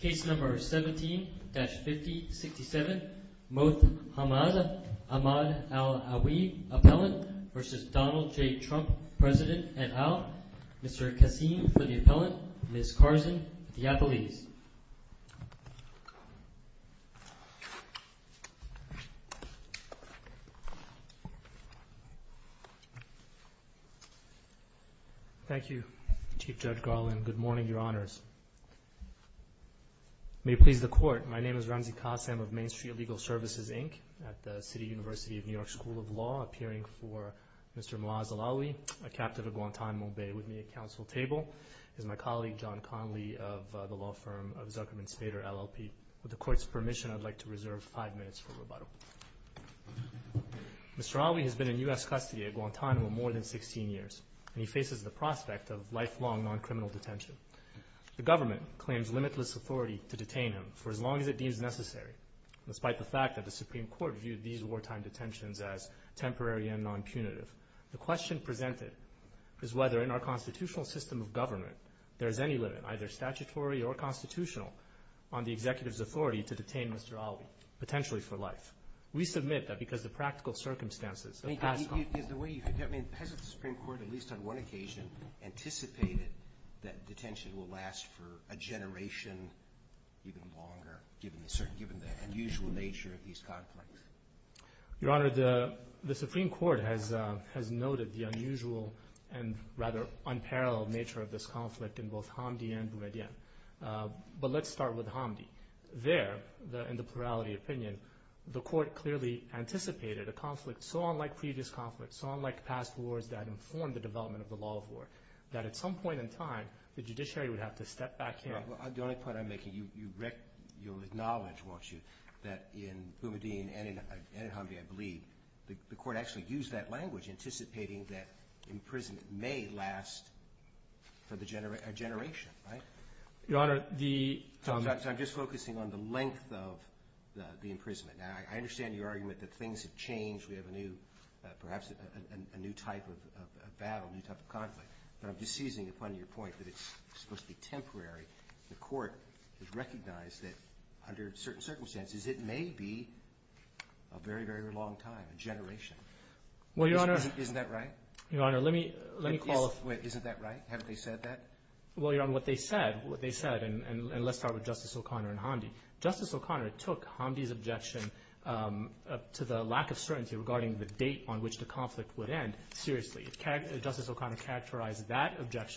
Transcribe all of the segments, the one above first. Case number 17-5067, Moath Hamad Al Alwi appellant v. Donald J. Trump, President et al. Mr. Kassim for the appellant, Ms. Carson, Diapolese. Thank you, Chief Judge Garland. Good morning, Your Honors. May it please the Court, my name is Ramzi Kassim of Main Street Legal Services, Inc., at the City University of New York School of Law, appearing for Mr. Moath Al Alwi, a captive of Guantanamo Bay. With me at counsel table is my colleague, John Conley, of the law firm of Zuckerman Spader, LLP. With the Court's permission, I'd like to reserve five minutes for rebuttal. Mr. Alwi has been in U.S. custody at Guantanamo more than 16 years, and he faces the prospect of lifelong non-criminal detention. The government claims limitless authority to detain him for as long as it deems necessary, despite the fact that the Supreme Court viewed these wartime detentions as temporary and non-cunative. The question presented is whether in our constitutional system of government, there is any limit, either statutory or constitutional, on the executive's authority to detain Mr. Alwi, potentially for life. We submit that because the practical circumstances of past law... I mean, is the way you... I mean, hasn't the Supreme Court, at least on one occasion, anticipated that detention will last for a generation, even longer, given the unusual nature of these conflicts? Your Honor, the Supreme Court has noted the unusual and rather unparalleled nature of this conflict in both Hamdi and Boumediene. But let's start with Hamdi. There, in the plurality opinion, the Court clearly anticipated a conflict so unlike previous conflicts, so unlike past wars that informed the development of the law of war, that at some point in time, the judiciary would have to step back in... Your Honor, the only point I'm making, you'll acknowledge, won't you, that in Boumediene and in Hamdi, I believe, the Court actually used that language, anticipating that imprisonment may last for a generation, right? Your Honor, the... So I'm just focusing on the length of the imprisonment. Now, I understand your argument that things have changed. We have a new, perhaps a new type of battle, a new type of conflict. But I'm just seizing upon your point that it's supposed to be temporary. The Court has recognized that under certain circumstances, it may be a very, very long time, a generation. Well, Your Honor... Isn't that right? Your Honor, let me... Isn't that right? Haven't they said that? Well, Your Honor, what they said, and let's start with Justice O'Connor and Hamdi. Justice O'Connor took Hamdi's objection to the lack of certainty regarding the date on which the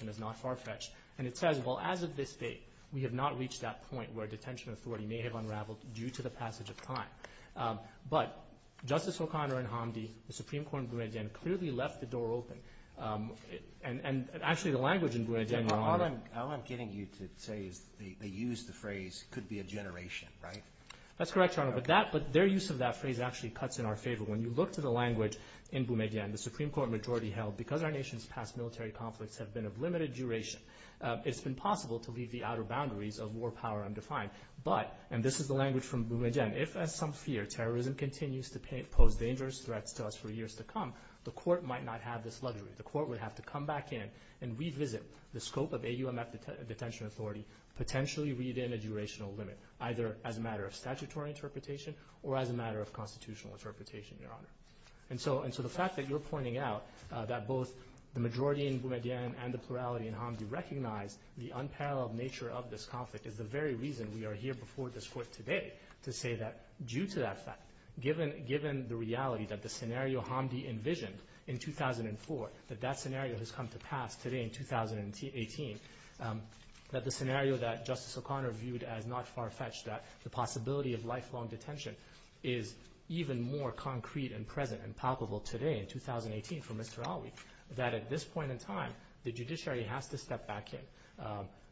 is not far-fetched. And it says, well, as of this date, we have not reached that point where a detention authority may have unraveled due to the passage of time. But Justice O'Connor and Hamdi, the Supreme Court in Boumediene clearly left the door open. And actually, the language in Boumediene, Your Honor... All I'm getting you to say is they used the phrase, could be a generation, right? That's correct, Your Honor. But their use of that phrase actually cuts in our favor. When you look to the language in Boumediene, the Supreme Court majority held, because our conflicts have been of limited duration, it's been possible to leave the outer boundaries of war power undefined. But, and this is the language from Boumediene, if, as some fear, terrorism continues to pose dangerous threats to us for years to come, the court might not have this luxury. The court would have to come back in and revisit the scope of AUMF detention authority, potentially read in a durational limit, either as a matter of statutory interpretation or as a matter of constitutional interpretation, Your Honor. And so the fact that you're pointing out that both the majority in Boumediene and the plurality in Hamdi recognize the unparalleled nature of this conflict is the very reason we are here before this court today to say that due to that fact, given the reality that the scenario Hamdi envisioned in 2004, that that scenario has come to pass today in 2018, that the scenario that Justice O'Connor viewed as not far-fetched, that the possibility of present and palpable today in 2018 for Mr. Alwi, that at this point in time, the judiciary has to step back in.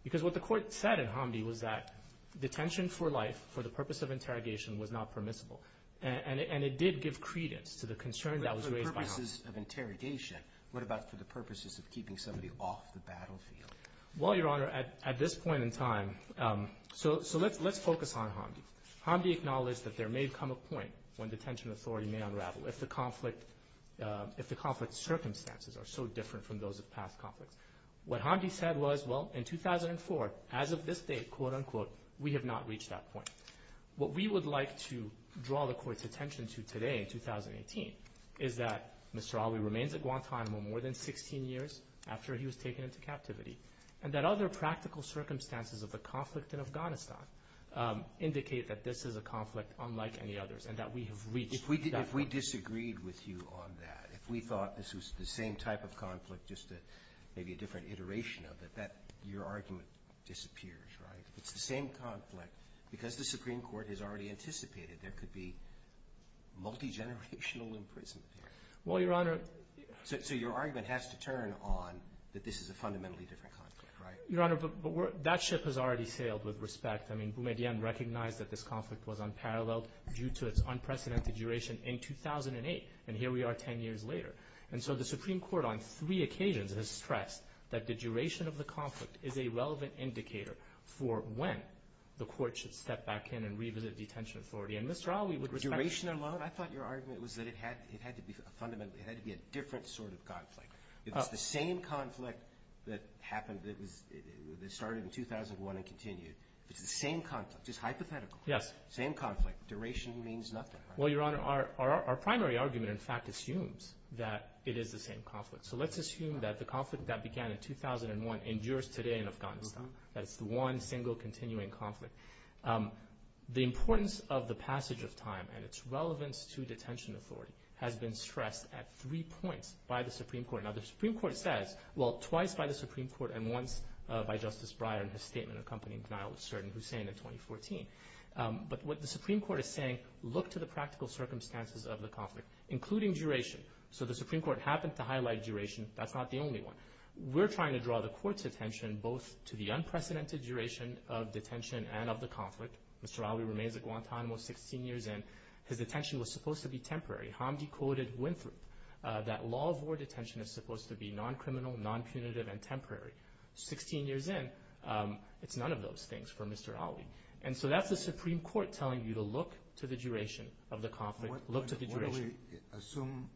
Because what the court said in Hamdi was that detention for life, for the purpose of interrogation, was not permissible. And it did give credence to the concern that was raised by Hamdi. But for the purposes of interrogation, what about for the purposes of keeping somebody off the battlefield? Well, Your Honor, at this point in time, so let's focus on Hamdi. Hamdi acknowledged that there may come a point when detention authority may unravel if the conflict's circumstances are so different from those of past conflicts. What Hamdi said was, well, in 2004, as of this date, quote-unquote, we have not reached that point. What we would like to draw the court's attention to today in 2018 is that Mr. Alwi remains at Guantanamo more than 16 years after he was taken into captivity, and that other practical circumstances of the conflict in Afghanistan indicate that this is a conflict unlike any others, and that we have reached that point. If we disagreed with you on that, if we thought this was the same type of conflict, just maybe a different iteration of it, that your argument disappears, right? It's the same conflict. Because the Supreme Court has already anticipated there could be multigenerational imprisonment here. Well, Your Honor. So your argument has to turn on that this is a fundamentally different conflict, right? Your Honor, that ship has already sailed, with respect. I mean, Boumediene recognized that this conflict was unparalleled due to its unprecedented duration in 2008, and here we are 10 years later. And so the Supreme Court, on three occasions, has stressed that the duration of the conflict is a relevant indicator for when the court should step back in and revisit detention authority. And Mr. Alwi would respect that. Duration alone? I thought your argument was that it had to be fundamentally, it had to be a different sort of conflict. It's the same conflict that started in 2001 and continued. It's the same conflict. It's hypothetical. Same conflict. Duration means nothing. Well, Your Honor, our primary argument, in fact, assumes that it is the same conflict. So let's assume that the conflict that began in 2001 endures today in Afghanistan. That it's the one, single, continuing conflict. The importance of the passage of time and its relevance to detention authority has been stressed at three points by the Supreme Court. Now, the Supreme Court says, well, twice by the Supreme Court and once by Justice Breyer in his statement accompanying denial of cert in Hussein in 2014. But what the Supreme Court is saying, look to the practical circumstances of the conflict, including duration. So the Supreme Court happened to highlight duration. That's not the only one. We're trying to draw the court's attention both to the unprecedented duration of detention and of the conflict. Mr. Ali remains at Guantanamo 16 years in. His detention was supposed to be temporary. Hamdi quoted Winthrop. That law of war detention is supposed to be non-criminal, non-punitive, and temporary. Sixteen years in, it's none of those things for Mr. Ali. And so that's the Supreme Court telling you to look to the duration of the conflict. Look to the duration. Assume,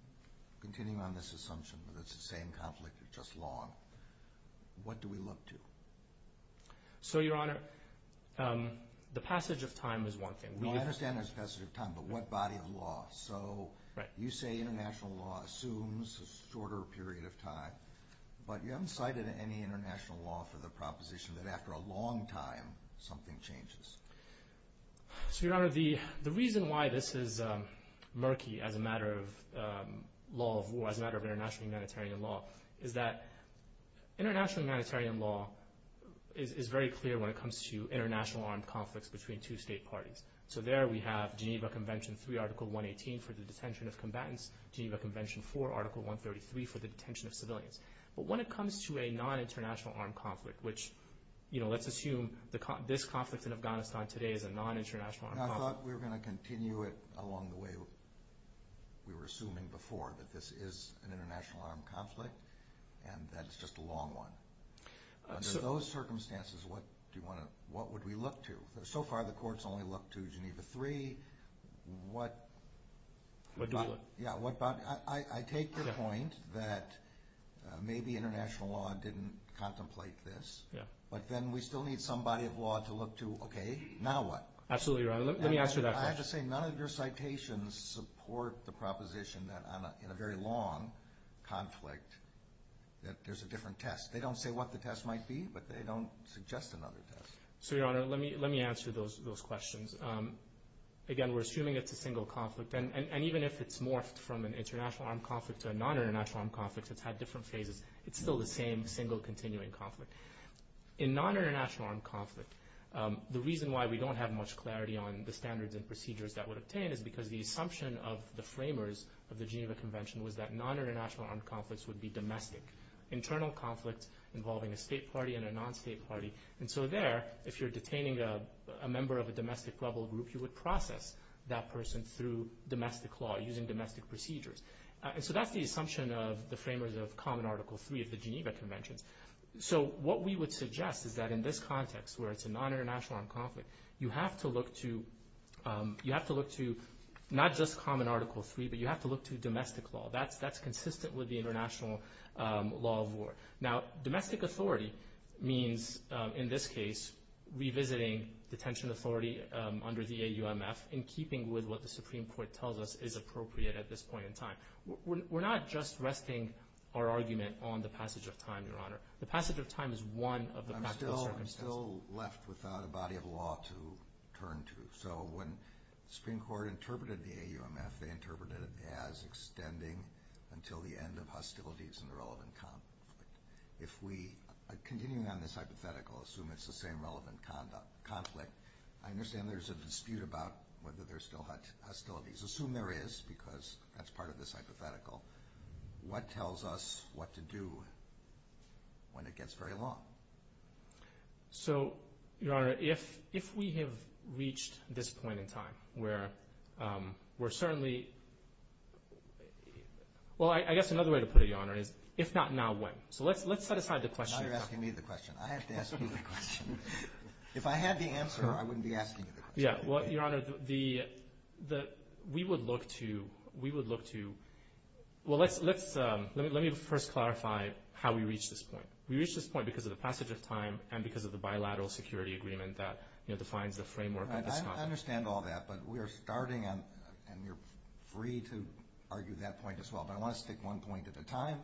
continuing on this assumption, that it's the same conflict that just long. What do we look to? So, Your Honor, the passage of time is one thing. Well, I understand there's a passage of time, but what body of law? So you say international law assumes a shorter period of time, but you haven't cited any international law for the proposition that after a long time something changes. So, Your Honor, the reason why this is murky as a matter of law of war, as a matter of International humanitarian law is very clear when it comes to international armed conflicts between two state parties. So there we have Geneva Convention 3, Article 118, for the detention of combatants. Geneva Convention 4, Article 133, for the detention of civilians. But when it comes to a non-international armed conflict, which, you know, let's assume this conflict in Afghanistan today is a non-international armed conflict. I thought we were going to continue it along the way we were assuming before, that this is an international armed conflict and that it's just a long one. Under those circumstances, what would we look to? So far the courts only look to Geneva 3. What do we look to? I take the point that maybe international law didn't contemplate this, but then we still need some body of law to look to, okay, now what? Absolutely, Your Honor. Let me answer that question. I have to say, none of your citations support the proposition that in a very long conflict that there's a different test. They don't say what the test might be, but they don't suggest another test. So, Your Honor, let me answer those questions. Again, we're assuming it's a single conflict, and even if it's morphed from an international armed conflict to a non-international armed conflict, it's had different phases, it's still the same single continuing conflict. In non-international armed conflict, the reason why we don't have much clarity on the standards and procedures that would obtain is because the assumption of the framers of the Geneva Convention was that non-international armed conflicts would be domestic, internal conflicts involving a state party and a non-state party. And so there, if you're detaining a member of a domestic level group, you would process that person through domestic law, using domestic procedures. And so that's the assumption of the framers of Common Article 3 of the Geneva Conventions. So what we would suggest is that in this context, where it's a non-international armed conflict, you have to look to not just Common Article 3, but you have to look to domestic law. That's consistent with the international law of war. Now, domestic authority means, in this case, revisiting detention authority under the AUMF in keeping with what the Supreme Court tells us is appropriate at this point in time. We're not just resting our argument on the passage of time, Your Honor. The passage of time is one of the practical circumstances. We're still left without a body of law to turn to. So when the Supreme Court interpreted the AUMF, they interpreted it as extending until the end of hostilities and the relevant conflict. If we continue on this hypothetical, assume it's the same relevant conflict, I understand there's a dispute about whether there's still hostilities. Assume there is, because that's part of this hypothetical. What tells us what to do when it gets very long? So, Your Honor, if we have reached this point in time where we're certainly – well, I guess another way to put it, Your Honor, is if not now, when? So let's set aside the question. Now you're asking me the question. I have to ask you the question. If I had the answer, I wouldn't be asking you the question. Yeah, well, Your Honor, we would look to – well, let me first clarify how we reach this point. We reach this point because of the passage of time and because of the bilateral security agreement that defines the framework of this conflict. I understand all that, but we are starting, and you're free to argue that point as well, but I want to stick one point at a time,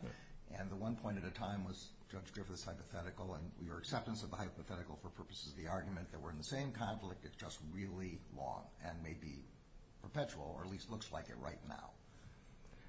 and the one point at a time was Judge Griffith's hypothetical and your acceptance of the hypothetical for purposes of the argument that we're in the same conflict. It's just really long and may be perpetual or at least looks like it right now.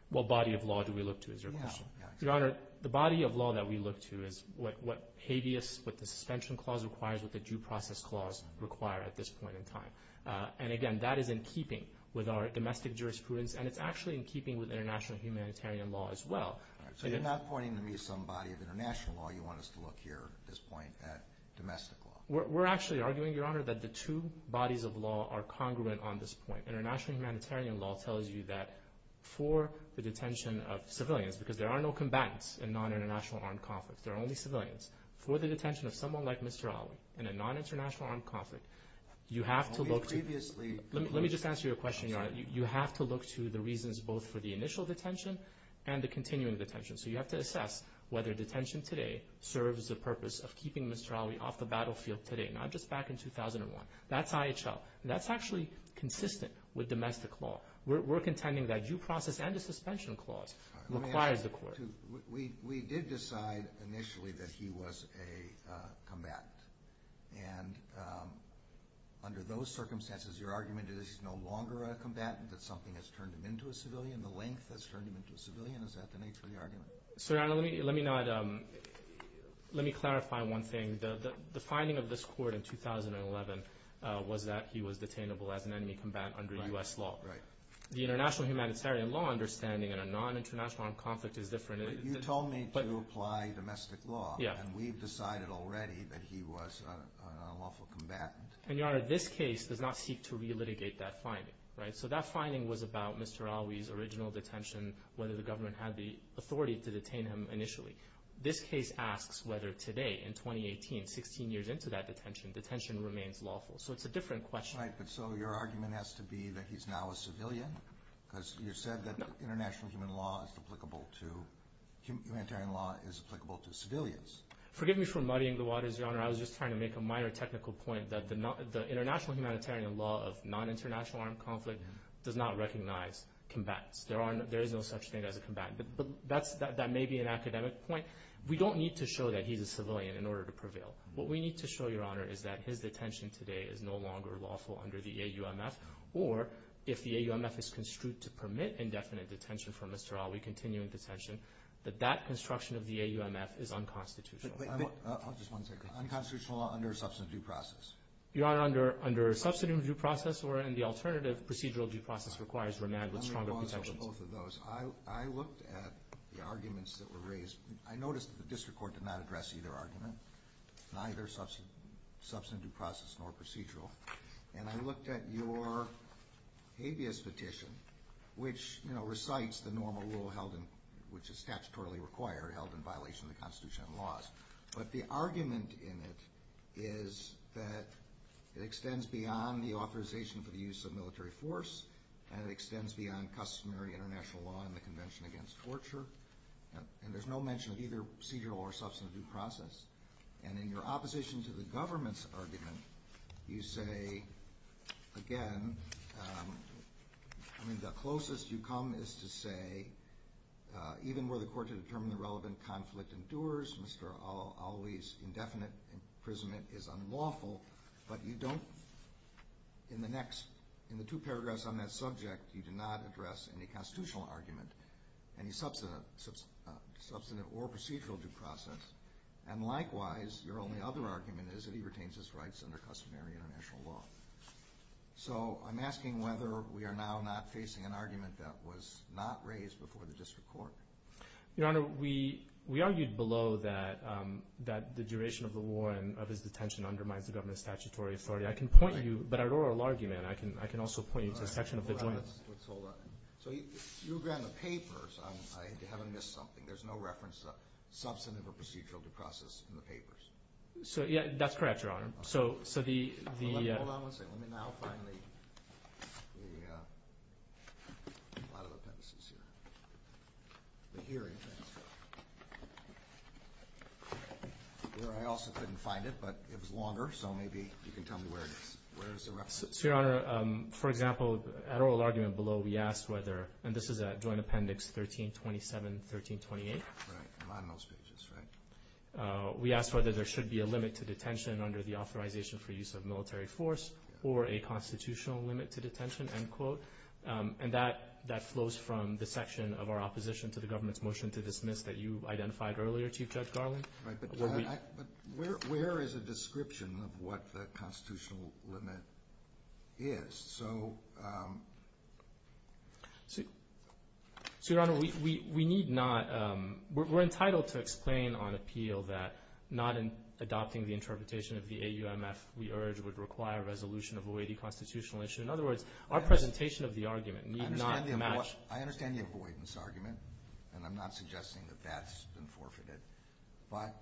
What body of law do we look to, is your question? Your Honor, the body of law that we look to is what habeas, what the suspension clause requires, what the due process clause require at this point in time. And again, that is in keeping with our domestic jurisprudence, and it's actually in keeping with international humanitarian law as well. So you're not pointing to me some body of international law. You want us to look here at this point at domestic law. We're actually arguing, Your Honor, that the two bodies of law are congruent on this point. International humanitarian law tells you that for the detention of civilians, because there are no combatants in non-international armed conflict. There are only civilians. For the detention of someone like Mr. Ali in a non-international armed conflict, you have to look to— Let me just answer your question, Your Honor. You have to look to the reasons both for the initial detention and the continuing detention. So you have to assess whether detention today serves the purpose of keeping Mr. Ali off the battlefield today, not just back in 2001. That's IHL. That's actually consistent with domestic law. We're contending that due process and the suspension clause requires the court. We did decide initially that he was a combatant. And under those circumstances, your argument is he's no longer a combatant, that something has turned him into a civilian, the length has turned him into a civilian. Is that the nature of the argument? So, Your Honor, let me clarify one thing. The finding of this court in 2011 was that he was detainable as an enemy combatant under U.S. law. Right. The international humanitarian law understanding in a non-international armed conflict is different. You told me to apply domestic law, and we've decided already that he was a lawful combatant. And, Your Honor, this case does not seek to relitigate that finding. Right. So that finding was about Mr. Ali's original detention, whether the government had the authority to detain him initially. This case asks whether today, in 2018, 16 years into that detention, detention remains lawful. So it's a different question. Right, but so your argument has to be that he's now a civilian? Because you said that international human law is applicable to civilians. Forgive me for muddying the waters, Your Honor. I was just trying to make a minor technical point that the international humanitarian law of non-international armed conflict does not recognize combatants. There is no such thing as a combatant. But that may be an academic point. We don't need to show that he's a civilian in order to prevail. What we need to show, Your Honor, is that his detention today is no longer lawful under the AUMF, or if the AUMF is construed to permit indefinite detention for Mr. Ali, continuing detention, that that construction of the AUMF is unconstitutional. Wait, wait. I'll just one second. Unconstitutional under a substantive due process. Your Honor, under a substantive due process or in the alternative procedural due process requires remand with stronger protections. I'm going to pause over both of those. I looked at the arguments that were raised. I noticed that the district court did not address either argument, neither substantive due process nor procedural. And I looked at your habeas petition, which, you know, recites the normal rule held in, which is statutorily required, held in violation of the Constitution and laws. But the argument in it is that it extends beyond the authorization for the use of military force and it extends beyond customary international law and the Convention Against Torture. And there's no mention of either procedural or substantive due process. And in your opposition to the government's argument, you say, again, I mean, the closest you come is to say, even where the court to determine the relevant conflict endures, Mr. Auli's indefinite imprisonment is unlawful. But you don't, in the next, in the two paragraphs on that subject, you do not address any constitutional argument, any substantive or procedural due process. And likewise, your only other argument is that he retains his rights under customary international law. So I'm asking whether we are now not facing an argument that was not raised before the district court. Your Honor, we argued below that the duration of the war and of his detention undermines the government's statutory authority. I can point you, but our oral argument, I can also point you to the section of the joint. So you agree on the papers. I haven't missed something. There's no reference to substantive or procedural due process in the papers. So, yeah, that's correct, Your Honor. Hold on one second. Let me now find the, a lot of appendices here. But here, I also couldn't find it, but it was longer, so maybe you can tell me where it is. Where is the reference? So, Your Honor, for example, at oral argument below, we asked whether, and this is at joint appendix 1327, 1328. Right, among those pages, right. We asked whether there should be a limit to detention under the authorization for use of military force or a constitutional limit to detention, end quote. And that flows from the section of our opposition to the government's motion to dismiss that you identified earlier, Chief Judge Garland. Right, but where is a description of what the constitutional limit is? So, Your Honor, we need not, we're entitled to explain on appeal that not adopting the interpretation of the AUMF we urge would require resolution of a weighty constitutional issue. In other words, our presentation of the argument need not match. I understand the avoidance argument, and I'm not suggesting that that's been forfeited, but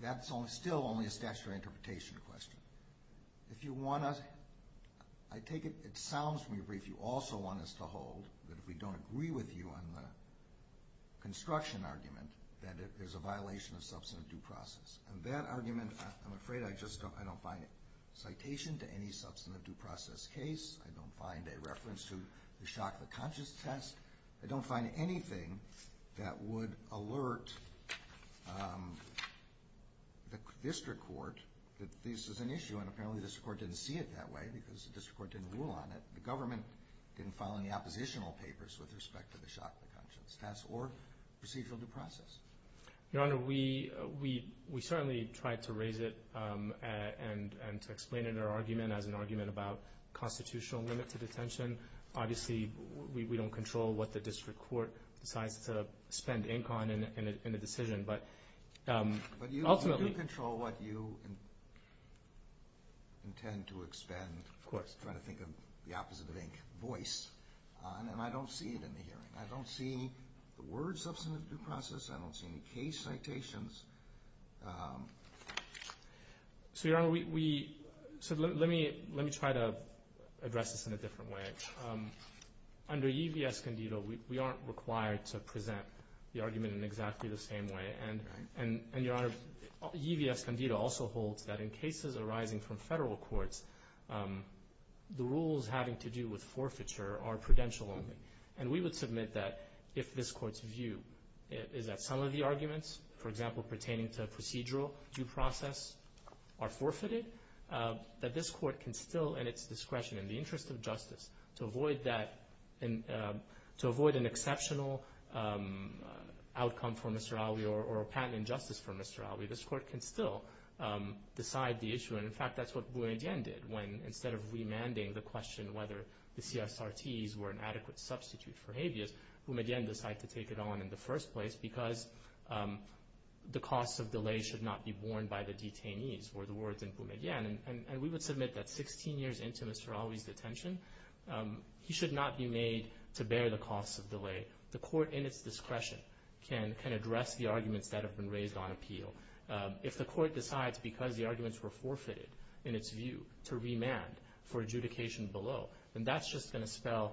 that's still only a statutory interpretation question. If you want to, I take it, it sounds from your brief you also want us to hold that if we don't agree with you on the construction argument, that there's a violation of substantive due process. And that argument, I'm afraid I just don't, I don't find a citation to any substantive due process case. I don't find a reference to the Shock the Conscious test. I don't find anything that would alert the district court that this is an issue, and apparently the district court didn't see it that way because the district court didn't rule on it. The government didn't file any oppositional papers with respect to the Shock the Conscious test or procedural due process. Your Honor, we certainly tried to raise it and to explain it in our argument as an argument about constitutional limit to detention. Obviously, we don't control what the district court decides to spend ink on in a decision, but ultimately. But you do control what you intend to expend. Of course. Trying to think of the opposite of ink, voice, and I don't see it in the hearing. I don't see the word substantive due process. I don't see any case citations. So, Your Honor, we, so let me try to address this in a different way. Under E.V.S. Candido, we aren't required to present the argument in exactly the same way. And, Your Honor, E.V.S. Candido also holds that in cases arising from federal courts, the rules having to do with forfeiture are prudential only. And we would submit that if this court's view is that some of the arguments, for example, pertaining to procedural due process, are forfeited, that this court can still, in its discretion, in the interest of justice, to avoid that, to avoid an exceptional outcome for Mr. Alvey or a patent injustice for Mr. Alvey, this court can still decide the issue. And, in fact, that's what Boumediene did. When, instead of remanding the question whether the CSRTs were an adequate substitute for habeas, Boumediene decided to take it on in the first place because the cost of delay should not be borne by the detainees, were the words in Boumediene. And we would submit that 16 years into Mr. Alvey's detention, he should not be made to bear the cost of delay. The court, in its discretion, can address the arguments that have been raised on appeal. If the court decides, because the arguments were forfeited in its view, to remand for adjudication below, then that's just going to spell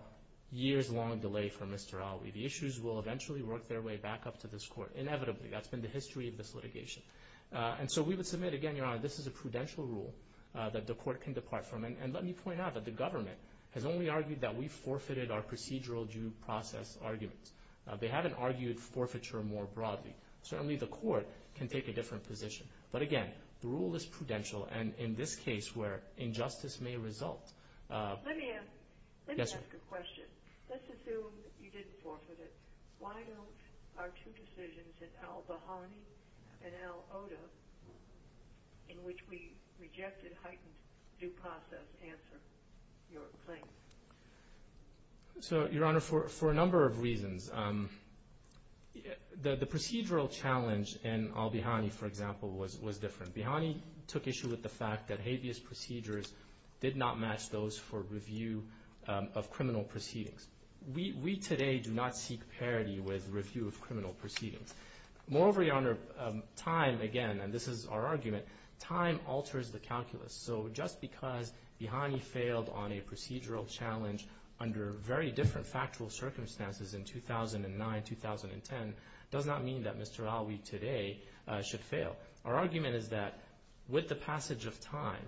years-long delay for Mr. Alvey. The issues will eventually work their way back up to this court, inevitably. That's been the history of this litigation. And so we would submit, again, Your Honor, this is a prudential rule that the court can depart from. And let me point out that the government has only argued that we forfeited our procedural due process arguments. They haven't argued forfeiture more broadly. Certainly the court can take a different position. But, again, the rule is prudential. And in this case where injustice may result. Let me ask a question. Let's assume you didn't forfeit it. Why don't our two decisions in al-Bihani and al-Ota, in which we rejected heightened due process, answer your claim? So, Your Honor, for a number of reasons. The procedural challenge in al-Bihani, for example, was different. Al-Bihani took issue with the fact that habeas procedures did not match those for review of criminal proceedings. We today do not seek parity with review of criminal proceedings. Moreover, Your Honor, time, again, and this is our argument, time alters the calculus. So just because al-Bihani failed on a procedural challenge under very different factual circumstances in 2009, 2010, does not mean that Mr. Alvey today should fail. Our argument is that with the passage of time,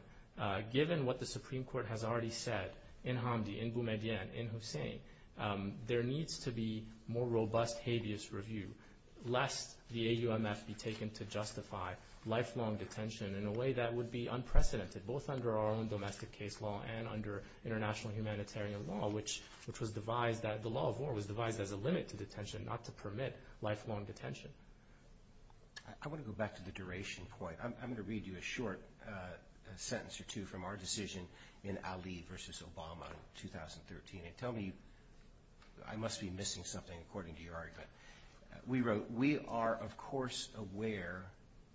given what the Supreme Court has already said, in Hamdi, in Boumediene, in Hussein, there needs to be more robust habeas review, lest the AUMF be taken to justify lifelong detention in a way that would be unprecedented, both under our own domestic case law and under international humanitarian law, which was devised that the law of war was devised as a limit to detention, not to permit lifelong detention. I want to go back to the duration point. I'm going to read you a short sentence or two from our decision in Ali v. Obama in 2013. Tell me, I must be missing something according to your argument. We wrote, we are, of course, aware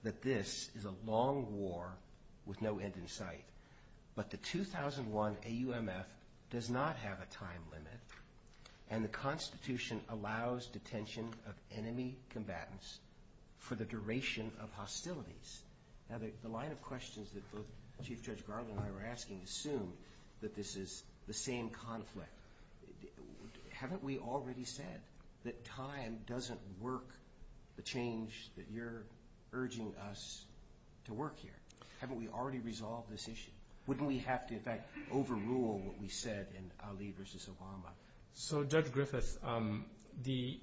that this is a long war with no end in sight, but the 2001 AUMF does not have a time limit, and the Constitution allows detention of enemy combatants for the duration of hostilities. Now, the line of questions that both Chief Judge Garland and I were asking assumed that this is the same conflict. Haven't we already said that time doesn't work the change that you're urging us to work here? Haven't we already resolved this issue? Wouldn't we have to, in fact, overrule what we said in Ali v. Obama? So, Judge Griffith, the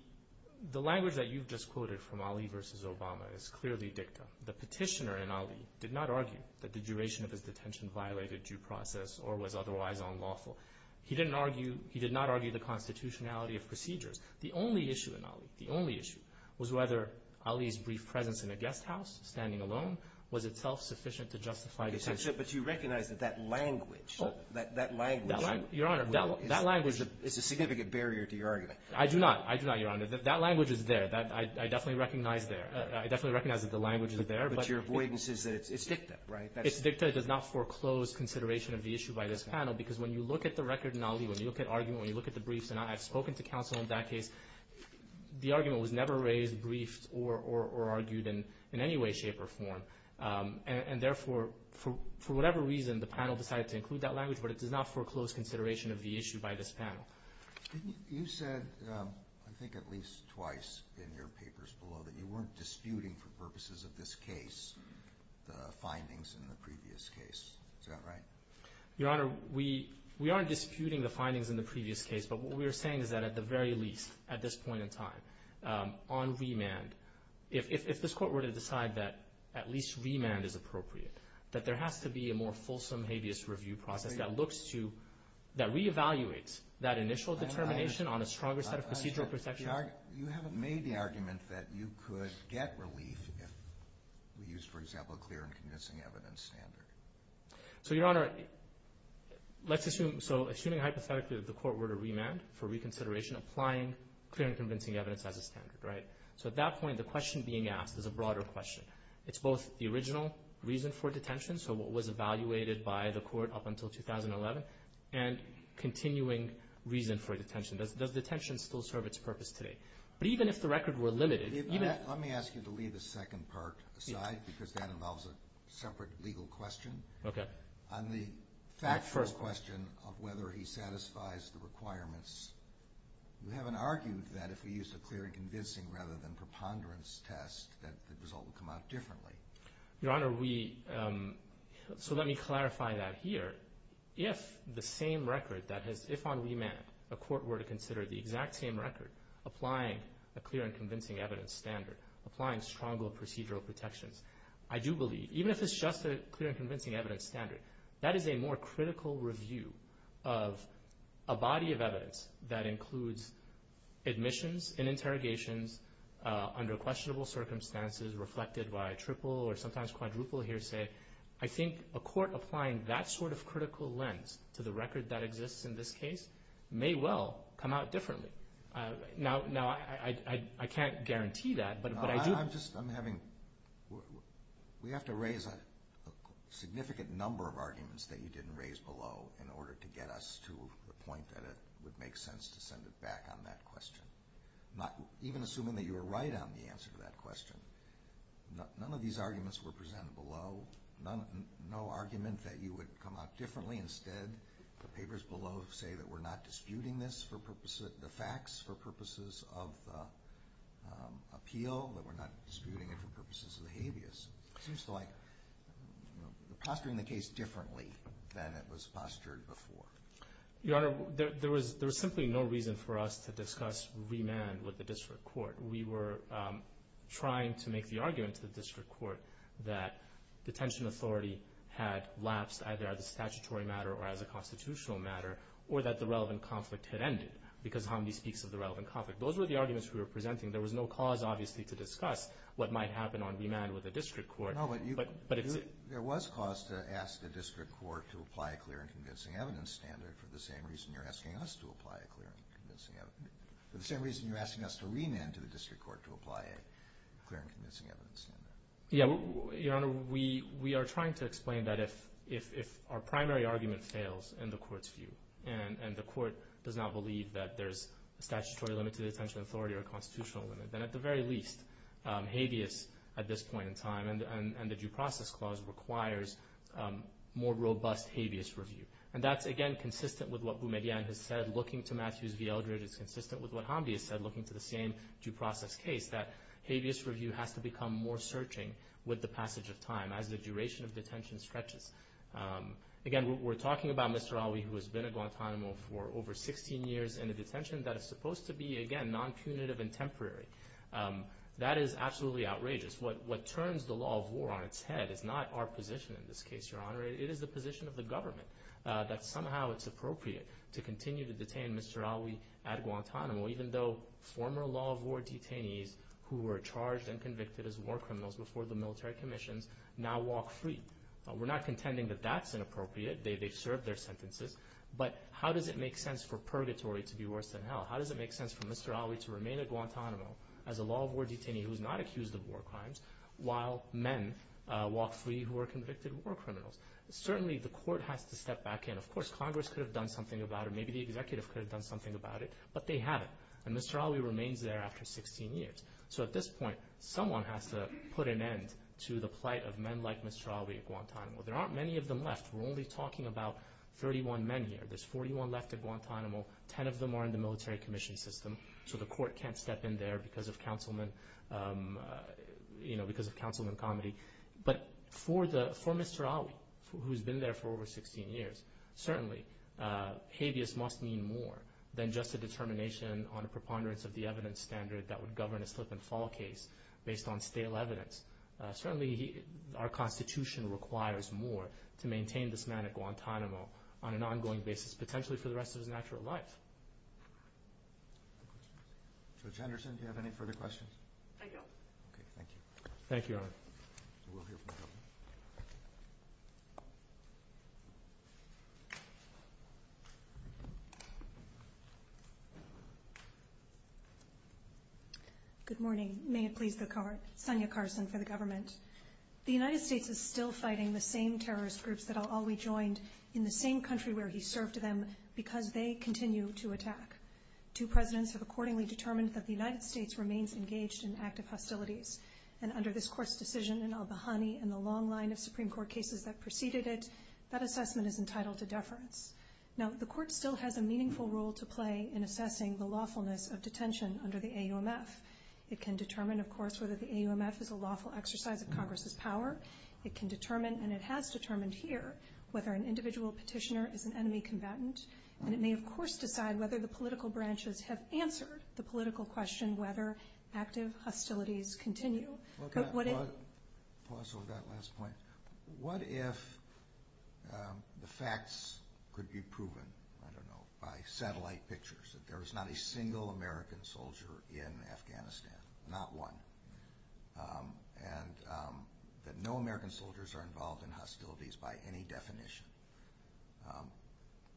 language that you've just quoted from Ali v. Obama is clearly dicta. The petitioner in Ali did not argue that the duration of his detention violated due process or was otherwise unlawful. He did not argue the constitutionality of procedures. The only issue in Ali, the only issue, was whether Ali's brief presence in a guest house standing alone was itself sufficient to justify detention. But you recognize that that language, that language. Your Honor, that language. It's a significant barrier to your argument. I do not, I do not, Your Honor. That language is there. I definitely recognize there. I definitely recognize that the language is there. But your avoidance is that it's dicta, right? It's dicta. It does not foreclose consideration of the issue by this panel because when you look at the record in Ali, when you look at argument, when you look at the briefs, and I've spoken to counsel in that case, the argument was never raised, briefed, or argued in any way, shape, or form. And therefore, for whatever reason, the panel decided to include that language, but it does not foreclose consideration of the issue by this panel. You said, I think at least twice in your papers below, that you weren't disputing for purposes of this case the findings in the previous case. Is that right? Your Honor, we aren't disputing the findings in the previous case, but what we are saying is that at the very least, at this point in time, on remand, if this Court were to decide that at least remand is appropriate, that there has to be a more fulsome habeas review process that looks to, that reevaluates that initial determination on a stronger set of procedural protections? You haven't made the argument that you could get relief if we use, for example, a clear and convincing evidence standard. So, Your Honor, let's assume, so assuming hypothetically that the Court were to remand for reconsideration, applying clear and convincing evidence as a standard, right? So at that point, the question being asked is a broader question. It's both the original reason for detention, so what was evaluated by the Court up until 2011, and continuing reason for detention. Does detention still serve its purpose today? But even if the record were limited, even if— On the factual question of whether he satisfies the requirements, you haven't argued that if we use a clear and convincing rather than preponderance test, that the result would come out differently. Your Honor, we, so let me clarify that here. If the same record that has, if on remand a Court were to consider the exact same record, applying a clear and convincing evidence standard, applying stronger procedural protections, I do believe, even if it's just a clear and convincing evidence standard, that is a more critical review of a body of evidence that includes admissions and interrogations under questionable circumstances reflected by triple or sometimes quadruple hearsay. I think a Court applying that sort of critical lens to the record that exists in this case may well come out differently. Now, I can't guarantee that, but I do— But I'm just, I'm having, we have to raise a significant number of arguments that you didn't raise below in order to get us to the point that it would make sense to send it back on that question. Not, even assuming that you were right on the answer to that question. None of these arguments were presented below. No argument that you would come out differently. Instead, the papers below say that we're not disputing this for purposes, the facts for purposes of appeal, that we're not disputing it for purposes of the habeas. It seems to like you're posturing the case differently than it was postured before. Your Honor, there was simply no reason for us to discuss remand with the District Court. We were trying to make the argument to the District Court that detention authority had lapsed either as a statutory matter or as a constitutional matter, or that the relevant conflict had ended because Hamdi speaks of the relevant conflict. Those were the arguments we were presenting. There was no cause, obviously, to discuss what might happen on remand with the District Court. No, but you— But it's— There was cause to ask the District Court to apply a clear and convincing evidence standard for the same reason you're asking us to apply a clear and convincing evidence— for the same reason you're asking us to remand to the District Court to apply a clear and convincing evidence standard. Yeah, Your Honor, we are trying to explain that if our primary argument fails in the Court's view and the Court does not believe that there's a statutory limit to the detention authority or a constitutional limit, then at the very least, habeas at this point in time and the due process clause requires more robust habeas review. And that's, again, consistent with what Boumediene has said looking to Matthews v. Eldred. It's consistent with what Hamdi has said looking to the same due process case, that habeas review has to become more searching with the passage of time as the duration of detention stretches. Again, we're talking about Mr. Ali who has been at Guantanamo for over 16 years in a detention that is supposed to be, again, non-punitive and temporary. That is absolutely outrageous. What turns the law of war on its head is not our position in this case, Your Honor. It is the position of the government that somehow it's appropriate to continue to detain Mr. Ali at Guantanamo even though former law of war detainees who were charged and convicted as war criminals before the military commissions now walk free. We're not contending that that's inappropriate. They've served their sentences. But how does it make sense for purgatory to be worse than hell? How does it make sense for Mr. Ali to remain at Guantanamo as a law of war detainee who's not accused of war crimes while men walk free who are convicted war criminals? Certainly, the court has to step back in. Of course, Congress could have done something about it. Maybe the executive could have done something about it. But they haven't. And Mr. Ali remains there after 16 years. So at this point, someone has to put an end to the plight of men like Mr. Ali at Guantanamo. There aren't many of them left. We're only talking about 31 men here. There's 41 left at Guantanamo. Ten of them are in the military commission system. So the court can't step in there because of councilman comedy. But for Mr. Ali, who's been there for over 16 years, certainly habeas must mean more than just a determination on a preponderance of the evidence standard that would govern a slip-and-fall case based on stale evidence. Certainly, our Constitution requires more to maintain this man at Guantanamo on an ongoing basis, potentially for the rest of his natural life. Judge Anderson, do you have any further questions? I don't. Okay, thank you. Thank you, Your Honor. We'll hear from the government. Good morning. May it please the Court. Sonia Carson for the government. The United States is still fighting the same terrorist groups that all rejoined in the same country where he served them because they continue to attack. Two presidents have accordingly determined that the United States remains engaged in active hostilities, and under this Court's decision in al-Bahani and the long line of Supreme Court cases that preceded it, that assessment is entitled to deference. Now, the Court still has a meaningful role to play in assessing the lawfulness of detention under the AUMF. It can determine, of course, whether the AUMF is a lawful exercise of Congress's power. It can determine, and it has determined here, whether an individual petitioner is an enemy combatant, and it may, of course, decide whether the political branches have answered the political question and whether active hostilities continue. Pause for that last point. What if the facts could be proven, I don't know, by satellite pictures, that there is not a single American soldier in Afghanistan, not one, and that no American soldiers are involved in hostilities by any definition?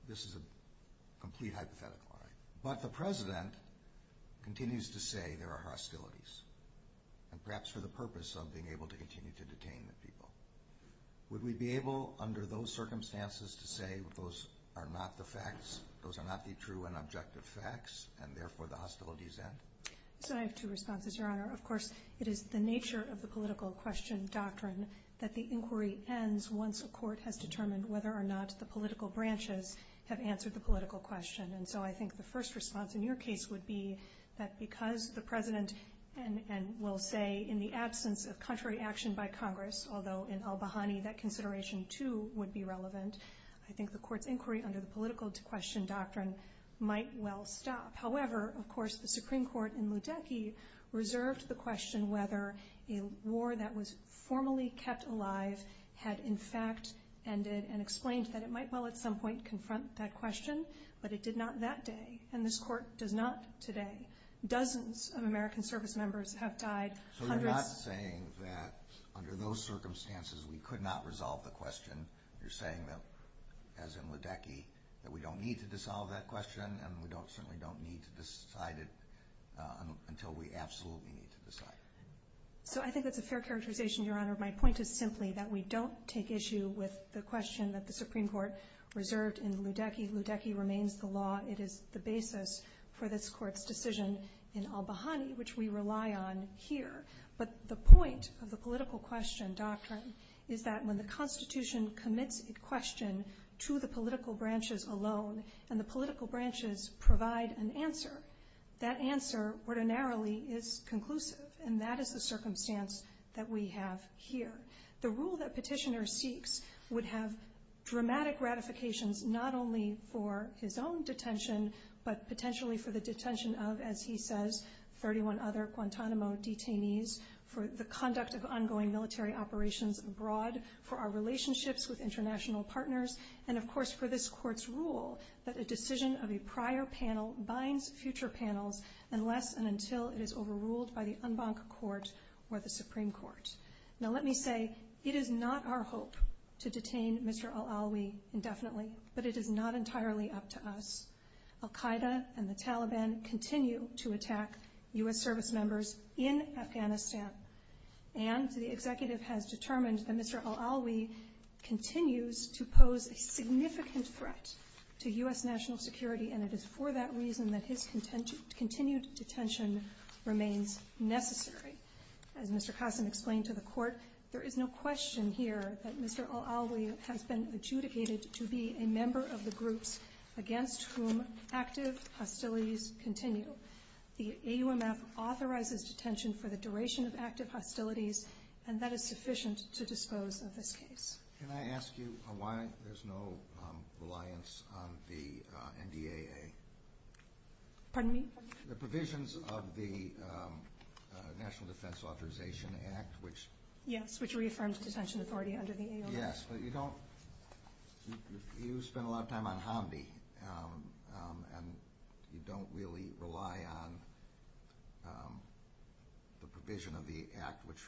This is a complete hypothetical. But the president continues to say there are hostilities, and perhaps for the purpose of being able to continue to detain the people. Would we be able, under those circumstances, to say those are not the facts, those are not the true and objective facts, and therefore the hostilities end? I have two responses, Your Honor. Of course, it is the nature of the political question doctrine that the inquiry ends once a court has determined whether or not the political branches have answered the political question. And so I think the first response in your case would be that because the president, and we'll say in the absence of contrary action by Congress, although in al-Bahani that consideration, too, would be relevant, I think the court's inquiry under the political question doctrine might well stop. However, of course, the Supreme Court in Mudeki reserved the question whether a war that was formally kept alive had in fact ended and explained that it might well at some point confront that question, but it did not that day, and this court does not today. Dozens of American service members have died. So you're not saying that under those circumstances we could not resolve the question. You're saying that, as in Mudeki, that we don't need to dissolve that question, and we certainly don't need to decide it until we absolutely need to decide it. So I think that's a fair characterization, Your Honor. My point is simply that we don't take issue with the question that the Supreme Court reserved in Mudeki. Mudeki remains the law. It is the basis for this court's decision in al-Bahani, which we rely on here. But the point of the political question doctrine is that when the Constitution commits a question to the political branches alone and the political branches provide an answer, that answer ordinarily is conclusive, and that is the circumstance that we have here. The rule that petitioner seeks would have dramatic ratifications not only for his own detention, but potentially for the detention of, as he says, 31 other Guantanamo detainees, for the conduct of ongoing military operations abroad, for our relationships with international partners, and, of course, for this court's rule that a decision of a prior panel binds future panels unless and until it is overruled by the en banc court or the Supreme Court. Now, let me say it is not our hope to detain Mr. al-Alawi indefinitely, but it is not entirely up to us. Al-Qaida and the Taliban continue to attack U.S. service members in Afghanistan, and the executive has determined that Mr. al-Alawi continues to pose a significant threat to U.S. national security, and it is for that reason that his continued detention remains necessary. As Mr. Qasem explained to the court, there is no question here that Mr. al-Alawi has been adjudicated to be a member of the groups against whom active hostilities continue. The AUMF authorizes detention for the duration of active hostilities, and that is sufficient to dispose of this case. Can I ask you why there's no reliance on the NDAA? Pardon me? The provisions of the National Defense Authorization Act, which— Yes, which reaffirms detention authority under the AUMF. Yes, but you don't—you spend a lot of time on Hamdi, and you don't really rely on the provision of the act which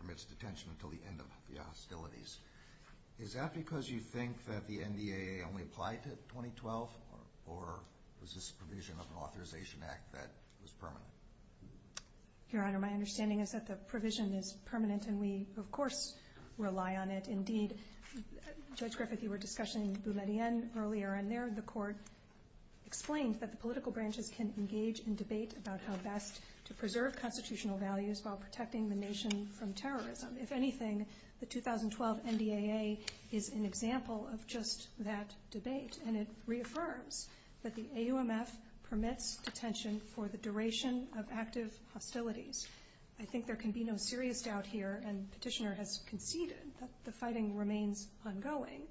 permits detention until the end of the hostilities. Is that because you think that the NDAA only applied to 2012, or was this a provision of an authorization act that was permanent? Your Honor, my understanding is that the provision is permanent, and we, of course, rely on it. Indeed, Judge Griffith, you were discussing Boumediene earlier, and there the court explained that the political branches can engage in debate about how best to preserve constitutional values while protecting the nation from terrorism. If anything, the 2012 NDAA is an example of just that debate, and it reaffirms that the AUMF permits detention for the duration of active hostilities. I think there can be no serious doubt here, and Petitioner has conceded that the fighting remains ongoing,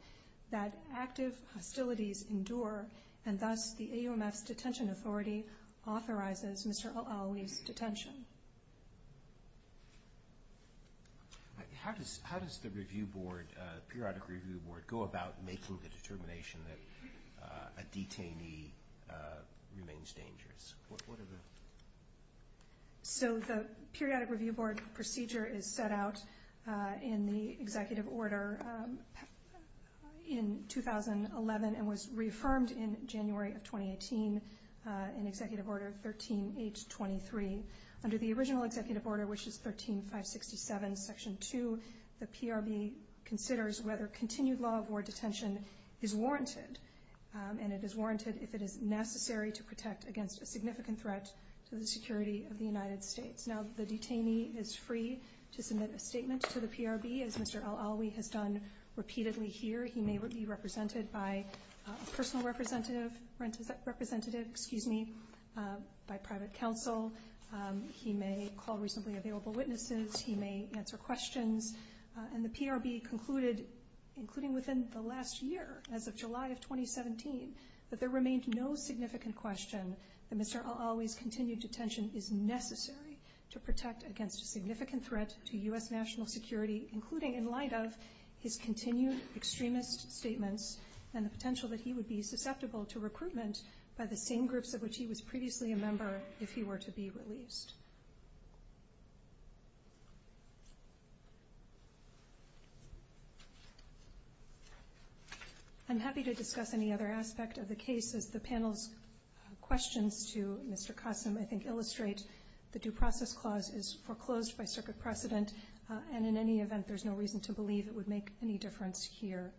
that active hostilities endure, and thus the AUMF's detention authority authorizes Mr. Al-Aoui's detention. How does the review board, the periodic review board, go about making the determination that a detainee remains dangerous? So the periodic review board procedure is set out in the Executive Order in 2011 and was reaffirmed in January of 2018 in Executive Order 13-H23. Under the original Executive Order, which is 13-567, Section 2, the PRB considers whether continued law of war detention is warranted, and it is warranted if it is necessary to protect against a significant threat to the security of the United States. Now, the detainee is free to submit a statement to the PRB, as Mr. Al-Aoui has done repeatedly here. He may be represented by a personal representative by private counsel. He may call reasonably available witnesses. He may answer questions. And the PRB concluded, including within the last year, as of July of 2017, that there remained no significant question that Mr. Al-Aoui's continued detention is necessary to protect against a significant threat to U.S. national security, including in light of his continued extremist statements and the potential that he would be susceptible to recruitment by the same groups of which he was previously a member if he were to be released. I'm happy to discuss any other aspect of the case. As the panel's questions to Mr. Qasem, I think, illustrate, the Due Process Clause is foreclosed by circuit precedent, and in any event there's no reason to believe it would make any difference here.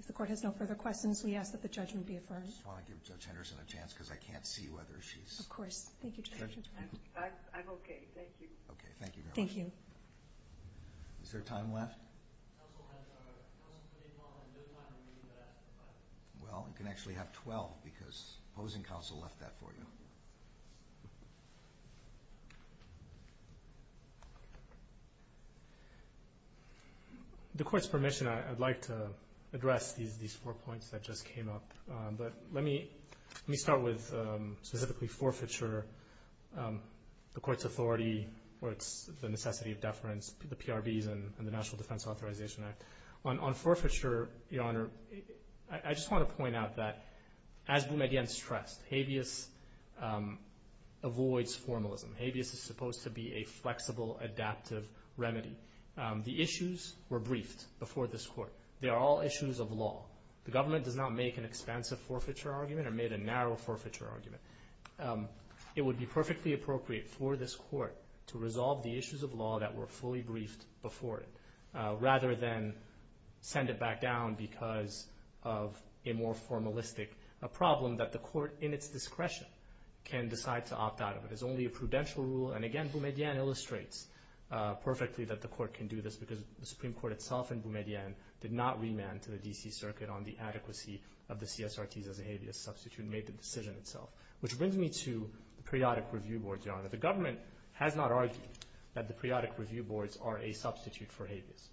If the Court has no further questions, we ask that the judgment be affirmed. I just want to give Judge Henderson a chance, because I can't see whether she's... Of course. Thank you, Judge. I'm okay. Thank you. Okay. Thank you very much. Thank you. Is there time left? Counsel has 12 minutes left. Well, you can actually have 12, because opposing counsel left that for you. Thank you. With the Court's permission, I'd like to address these four points that just came up. But let me start with specifically forfeiture, the Court's authority, or it's the necessity of deference, the PRBs and the National Defense Authorization Act. On forfeiture, Your Honor, I just want to point out that, as Boumediene stressed, habeas avoids formalism. Habeas is supposed to be a flexible, adaptive remedy. The issues were briefed before this Court. They are all issues of law. The government does not make an expansive forfeiture argument or make a narrow forfeiture argument. It would be perfectly appropriate for this Court to resolve the issues of law that were fully briefed before it, rather than send it back down because of a more formalistic problem that the Court, in its discretion, can decide to opt out of. It is only a prudential rule. And again, Boumediene illustrates perfectly that the Court can do this because the Supreme Court itself and Boumediene did not remand to the D.C. Circuit on the adequacy of the CSRTs as a habeas substitute and made the decision itself. Which brings me to periodic review boards, Your Honor. The government has not argued that the periodic review boards are a substitute for habeas.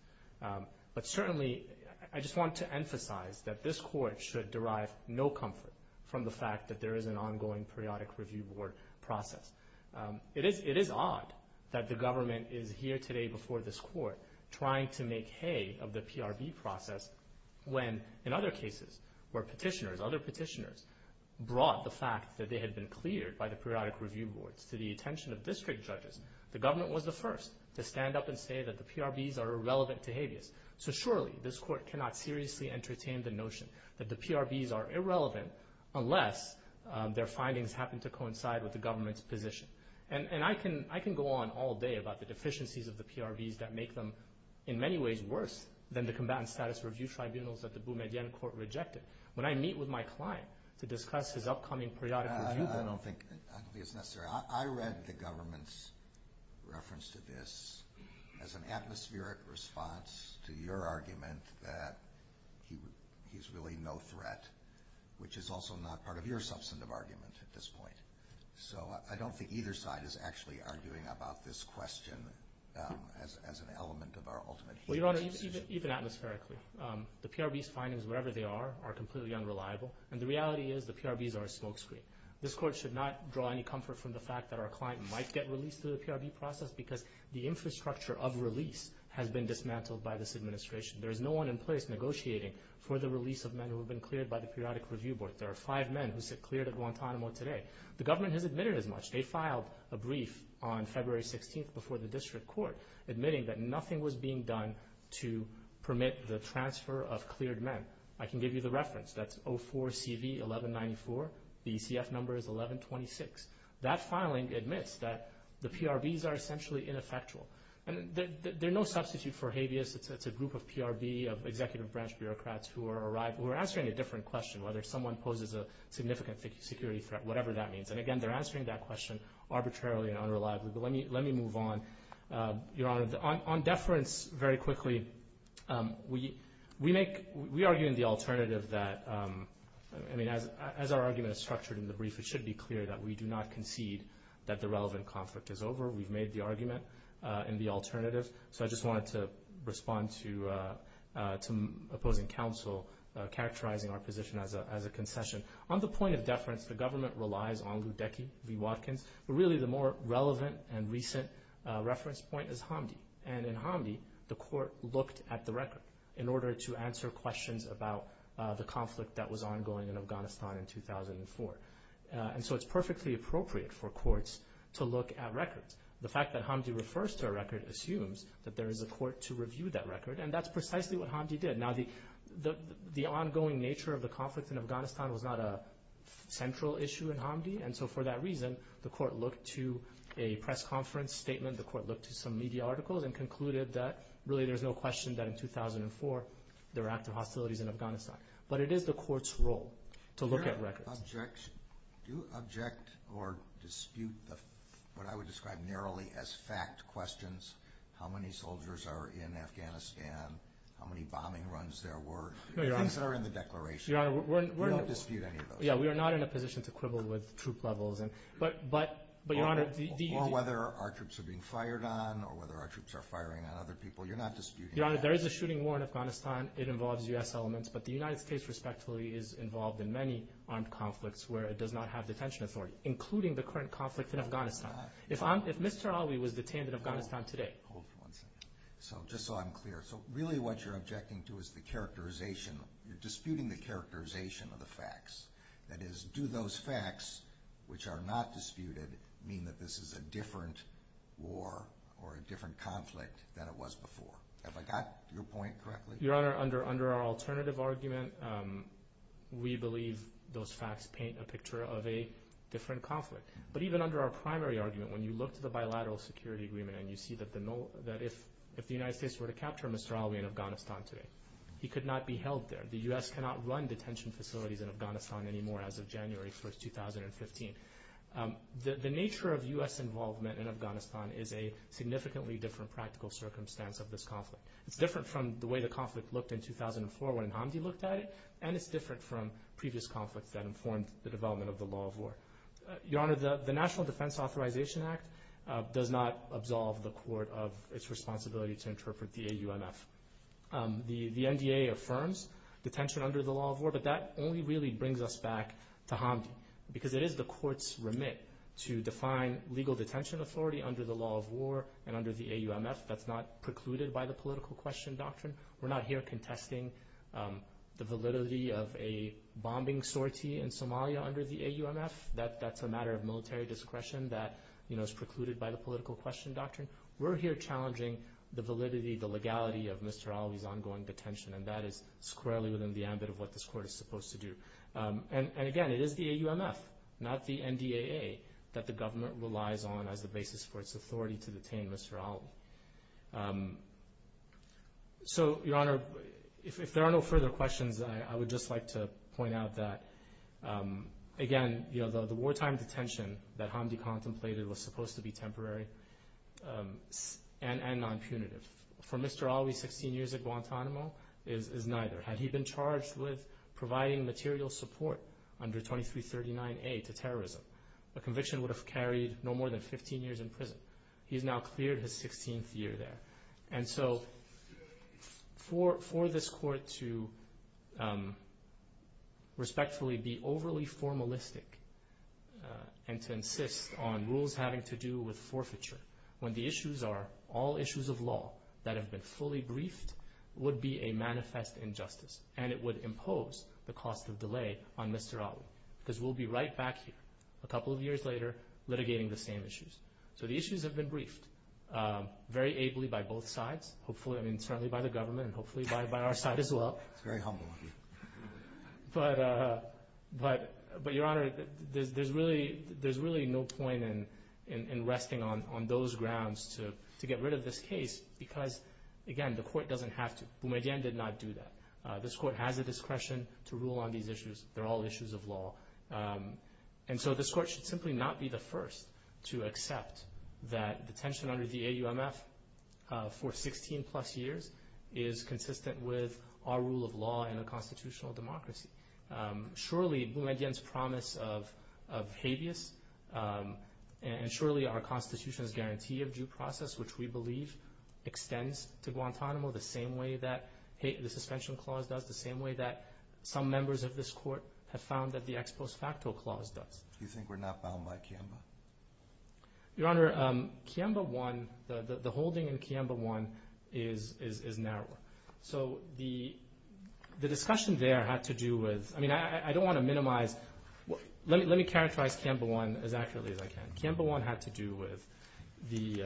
But certainly, I just want to emphasize that this Court should derive no comfort from the fact that there is an ongoing periodic review board process. It is odd that the government is here today before this Court trying to make hay of the PRB process when, in other cases, where other petitioners brought the fact that they had been cleared by the periodic review boards to the attention of district judges, the government was the first to stand up and say that the PRBs are irrelevant to habeas. So surely, this Court cannot seriously entertain the notion that the PRBs are irrelevant unless their findings happen to coincide with the government's position. And I can go on all day about the deficiencies of the PRBs that make them, in many ways, worse than the combatant status review tribunals that the Boumediene Court rejected. When I meet with my client to discuss his upcoming periodic review board... I don't think it's necessary. I read the government's reference to this as an atmospheric response to your argument that he's really no threat, which is also not part of your substantive argument at this point. So I don't think either side is actually arguing about this question as an element of our ultimate... Well, Your Honor, even atmospherically, the PRBs' findings, wherever they are, are completely unreliable, and the reality is the PRBs are a smokescreen. This Court should not draw any comfort from the fact that our client might get released through the PRB process because the infrastructure of release has been dismantled by this administration. There is no one in place negotiating for the release of men who have been cleared by the periodic review board. There are five men who sit cleared at Guantanamo today. The government has admitted as much. They filed a brief on February 16th before the district court admitting that nothing was being done to permit the transfer of cleared men. I can give you the reference. That's 04-CV-1194. The ECF number is 1126. That filing admits that the PRBs are essentially ineffectual, and they're no substitute for habeas. It's a group of PRB, of executive branch bureaucrats, who are answering a different question, whether someone poses a significant security threat, whatever that means. And, again, they're answering that question arbitrarily and unreliably. But let me move on. Your Honor, on deference, very quickly, we argue in the alternative that, I mean, as our argument is structured in the brief, it should be clear that we do not concede that the relevant conflict is over. We've made the argument in the alternative. So I just wanted to respond to opposing counsel characterizing our position as a concession. On the point of deference, the government relies on Ludecky v. Watkins, but really the more relevant and recent reference point is Hamdi. And in Hamdi, the court looked at the record in order to answer questions about the conflict that was ongoing in Afghanistan in 2004. And so it's perfectly appropriate for courts to look at records. The fact that Hamdi refers to a record assumes that there is a court to review that record, and that's precisely what Hamdi did. Now, the ongoing nature of the conflict in Afghanistan was not a central issue in Hamdi, and so for that reason, the court looked to a press conference statement, the court looked to some media articles, and concluded that really there's no question that in 2004 there were active hostilities in Afghanistan. But it is the court's role to look at records. Do you object or dispute what I would describe narrowly as fact questions? How many soldiers are in Afghanistan? How many bombing runs there were? No, Your Honor. Things that are in the declaration. We don't dispute any of those. Yeah, we are not in a position to quibble with troop levels. Or whether our troops are being fired on, or whether our troops are firing on other people. You're not disputing that. Your Honor, there is a shooting war in Afghanistan. It involves U.S. elements, but the United States, respectively, is involved in many armed conflicts where it does not have detention authority, including the current conflict in Afghanistan. If Mr. Ali was detained in Afghanistan today. So just so I'm clear, so really what you're objecting to is the characterization. You're disputing the characterization of the facts. That is, do those facts, which are not disputed, mean that this is a different war or a different conflict than it was before? Have I got your point correctly? Your Honor, under our alternative argument, we believe those facts paint a picture of a different conflict. But even under our primary argument, when you look to the bilateral security agreement and you see that if the United States were to capture Mr. Ali in Afghanistan today, he could not be held there. The U.S. cannot run detention facilities in Afghanistan anymore as of January 1, 2015. The nature of U.S. involvement in Afghanistan is a significantly different practical circumstance of this conflict. It's different from the way the conflict looked in 2004 when Hamdi looked at it, and it's different from previous conflicts that informed the development of the law of war. Your Honor, the National Defense Authorization Act does not absolve the court of its responsibility to interpret the AUMF. The NDA affirms detention under the law of war, but that only really brings us back to Hamdi because it is the court's remit to define legal detention authority under the law of war and under the AUMF that's not precluded by the political question doctrine. We're not here contesting the validity of a bombing sortie in Somalia under the AUMF. That's a matter of military discretion that is precluded by the political question doctrine. We're here challenging the validity, the legality of Mr. Ali's ongoing detention, and that is squarely within the ambit of what this court is supposed to do. And again, it is the AUMF, not the NDAA, that the government relies on as the basis for its authority to detain Mr. Ali. So, Your Honor, if there are no further questions, I would just like to point out that, again, the wartime detention that Hamdi contemplated was supposed to be temporary and non-punitive. For Mr. Ali, 16 years at Guantanamo is neither. Had he been charged with providing material support under 2339A to terrorism, the conviction would have carried no more than 15 years in prison. He has now cleared his 16th year there. And so, for this court to respectfully be overly formalistic and to insist on rules having to do with forfeiture, when the issues are all issues of law that have been fully briefed, would be a manifest injustice, and it would impose the cost of delay on Mr. Ali. Because we'll be right back here a couple of years later litigating the same issues. So, the issues have been briefed very ably by both sides, certainly by the government and hopefully by our side as well. That's very humble of you. But, Your Honor, there's really no point in resting on those grounds to get rid of this case because, again, the court doesn't have to. Boumediene did not do that. This court has the discretion to rule on these issues. They're all issues of law. And so, this court should simply not be the first to accept that the tension under the AUMF for 16-plus years is consistent with our rule of law in a constitutional democracy. Surely, Boumediene's promise of habeas and surely our Constitution's guarantee of due process, which we believe extends to Guantanamo the same way that the suspension clause does, the same way that some members of this court have found that the ex post facto clause does. Do you think we're not bound by Kiamba? Your Honor, Kiamba 1, the holding in Kiamba 1 is narrow. So, the discussion there had to do with, I mean, I don't want to minimize, let me characterize Kiamba 1 as accurately as I can. Kiamba 1 had to do with the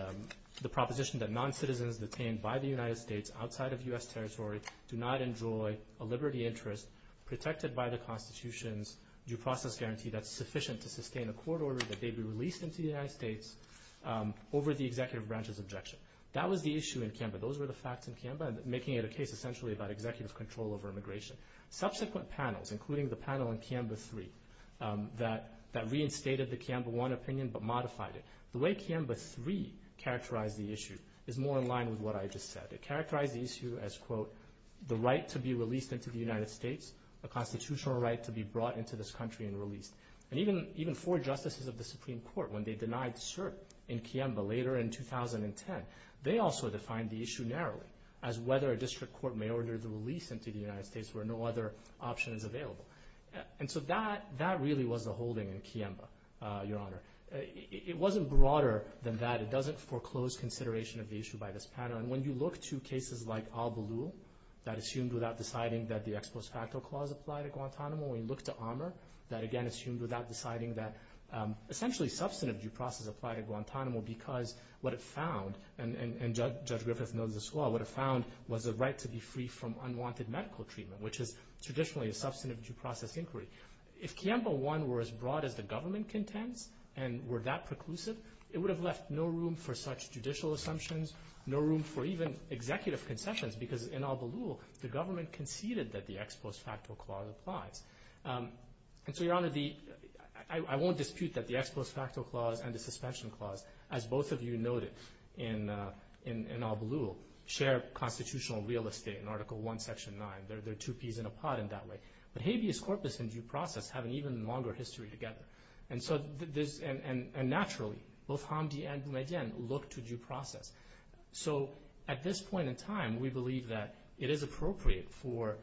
proposition that non-citizens detained by the United States outside of U.S. territory do not enjoy a liberty interest protected by the Constitution's due process guarantee that's sufficient to sustain a court order that they be released into the United States over the executive branch's objection. That was the issue in Kiamba. Those were the facts in Kiamba, making it a case essentially about executive control over immigration. Subsequent panels, including the panel in Kiamba 3, that reinstated the Kiamba 1 opinion but modified it. The way Kiamba 3 characterized the issue is more in line with what I just said. It characterized the issue as, quote, the right to be released into the United States, a constitutional right to be brought into this country and released. And even four justices of the Supreme Court, when they denied cert in Kiamba later in 2010, they also defined the issue narrowly as whether a district court may order the release into the United States where no other option is available. And so that really was the holding in Kiamba, Your Honor. It wasn't broader than that. It doesn't foreclose consideration of the issue by this panel. Your Honor, when you look to cases like Al-Baloo, that assumed without deciding that the Ex Post Facto Clause applied at Guantanamo, when you look to Armour, that again assumed without deciding that essentially substantive due process applied at Guantanamo because what it found, and Judge Griffith knows this well, what it found was the right to be free from unwanted medical treatment, which is traditionally a substantive due process inquiry. If Kiamba 1 were as broad as the government contends and were that preclusive, it would have left no room for such judicial assumptions, no room for even executive concessions because in Al-Baloo the government conceded that the Ex Post Facto Clause applies. And so, Your Honor, I won't dispute that the Ex Post Facto Clause and the Suspension Clause, as both of you noted in Al-Baloo, share constitutional real estate in Article I, Section 9. They're two peas in a pod in that way. But habeas corpus and due process have an even longer history together. And naturally, both Hamdi and Boumediene look to due process. So at this point in time, we believe that it is appropriate for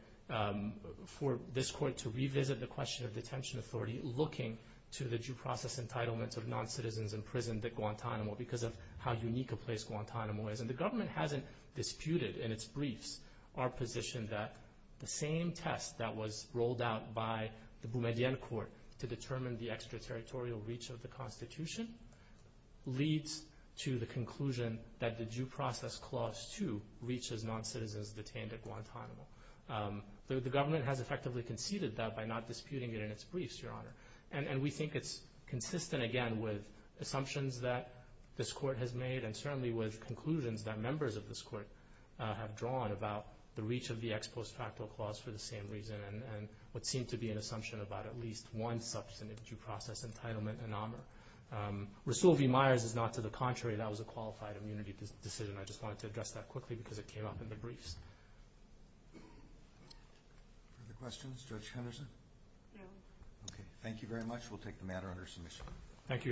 this Court to revisit the question of detention authority looking to the due process entitlements of non-citizens in prison at Guantanamo because of how unique a place Guantanamo is. And the government hasn't disputed in its briefs our position that the same test that was rolled out by the Boumediene Court to determine the extraterritorial reach of the Constitution leads to the conclusion that the due process clause, too, reaches non-citizens detained at Guantanamo. The government has effectively conceded that by not disputing it in its briefs, Your Honor. And we think it's consistent, again, with assumptions that this Court has made and certainly with conclusions that members of this Court have drawn about the reach of the ex post facto clause for the same reason and what seemed to be an assumption about at least one substantive due process entitlement in AMR. Rassoul v. Myers is not to the contrary. That was a qualified immunity decision. I just wanted to address that quickly because it came up in the briefs. Other questions? Judge Henderson? No. Okay. Thank you very much. We'll take the matter under submission. Thank you.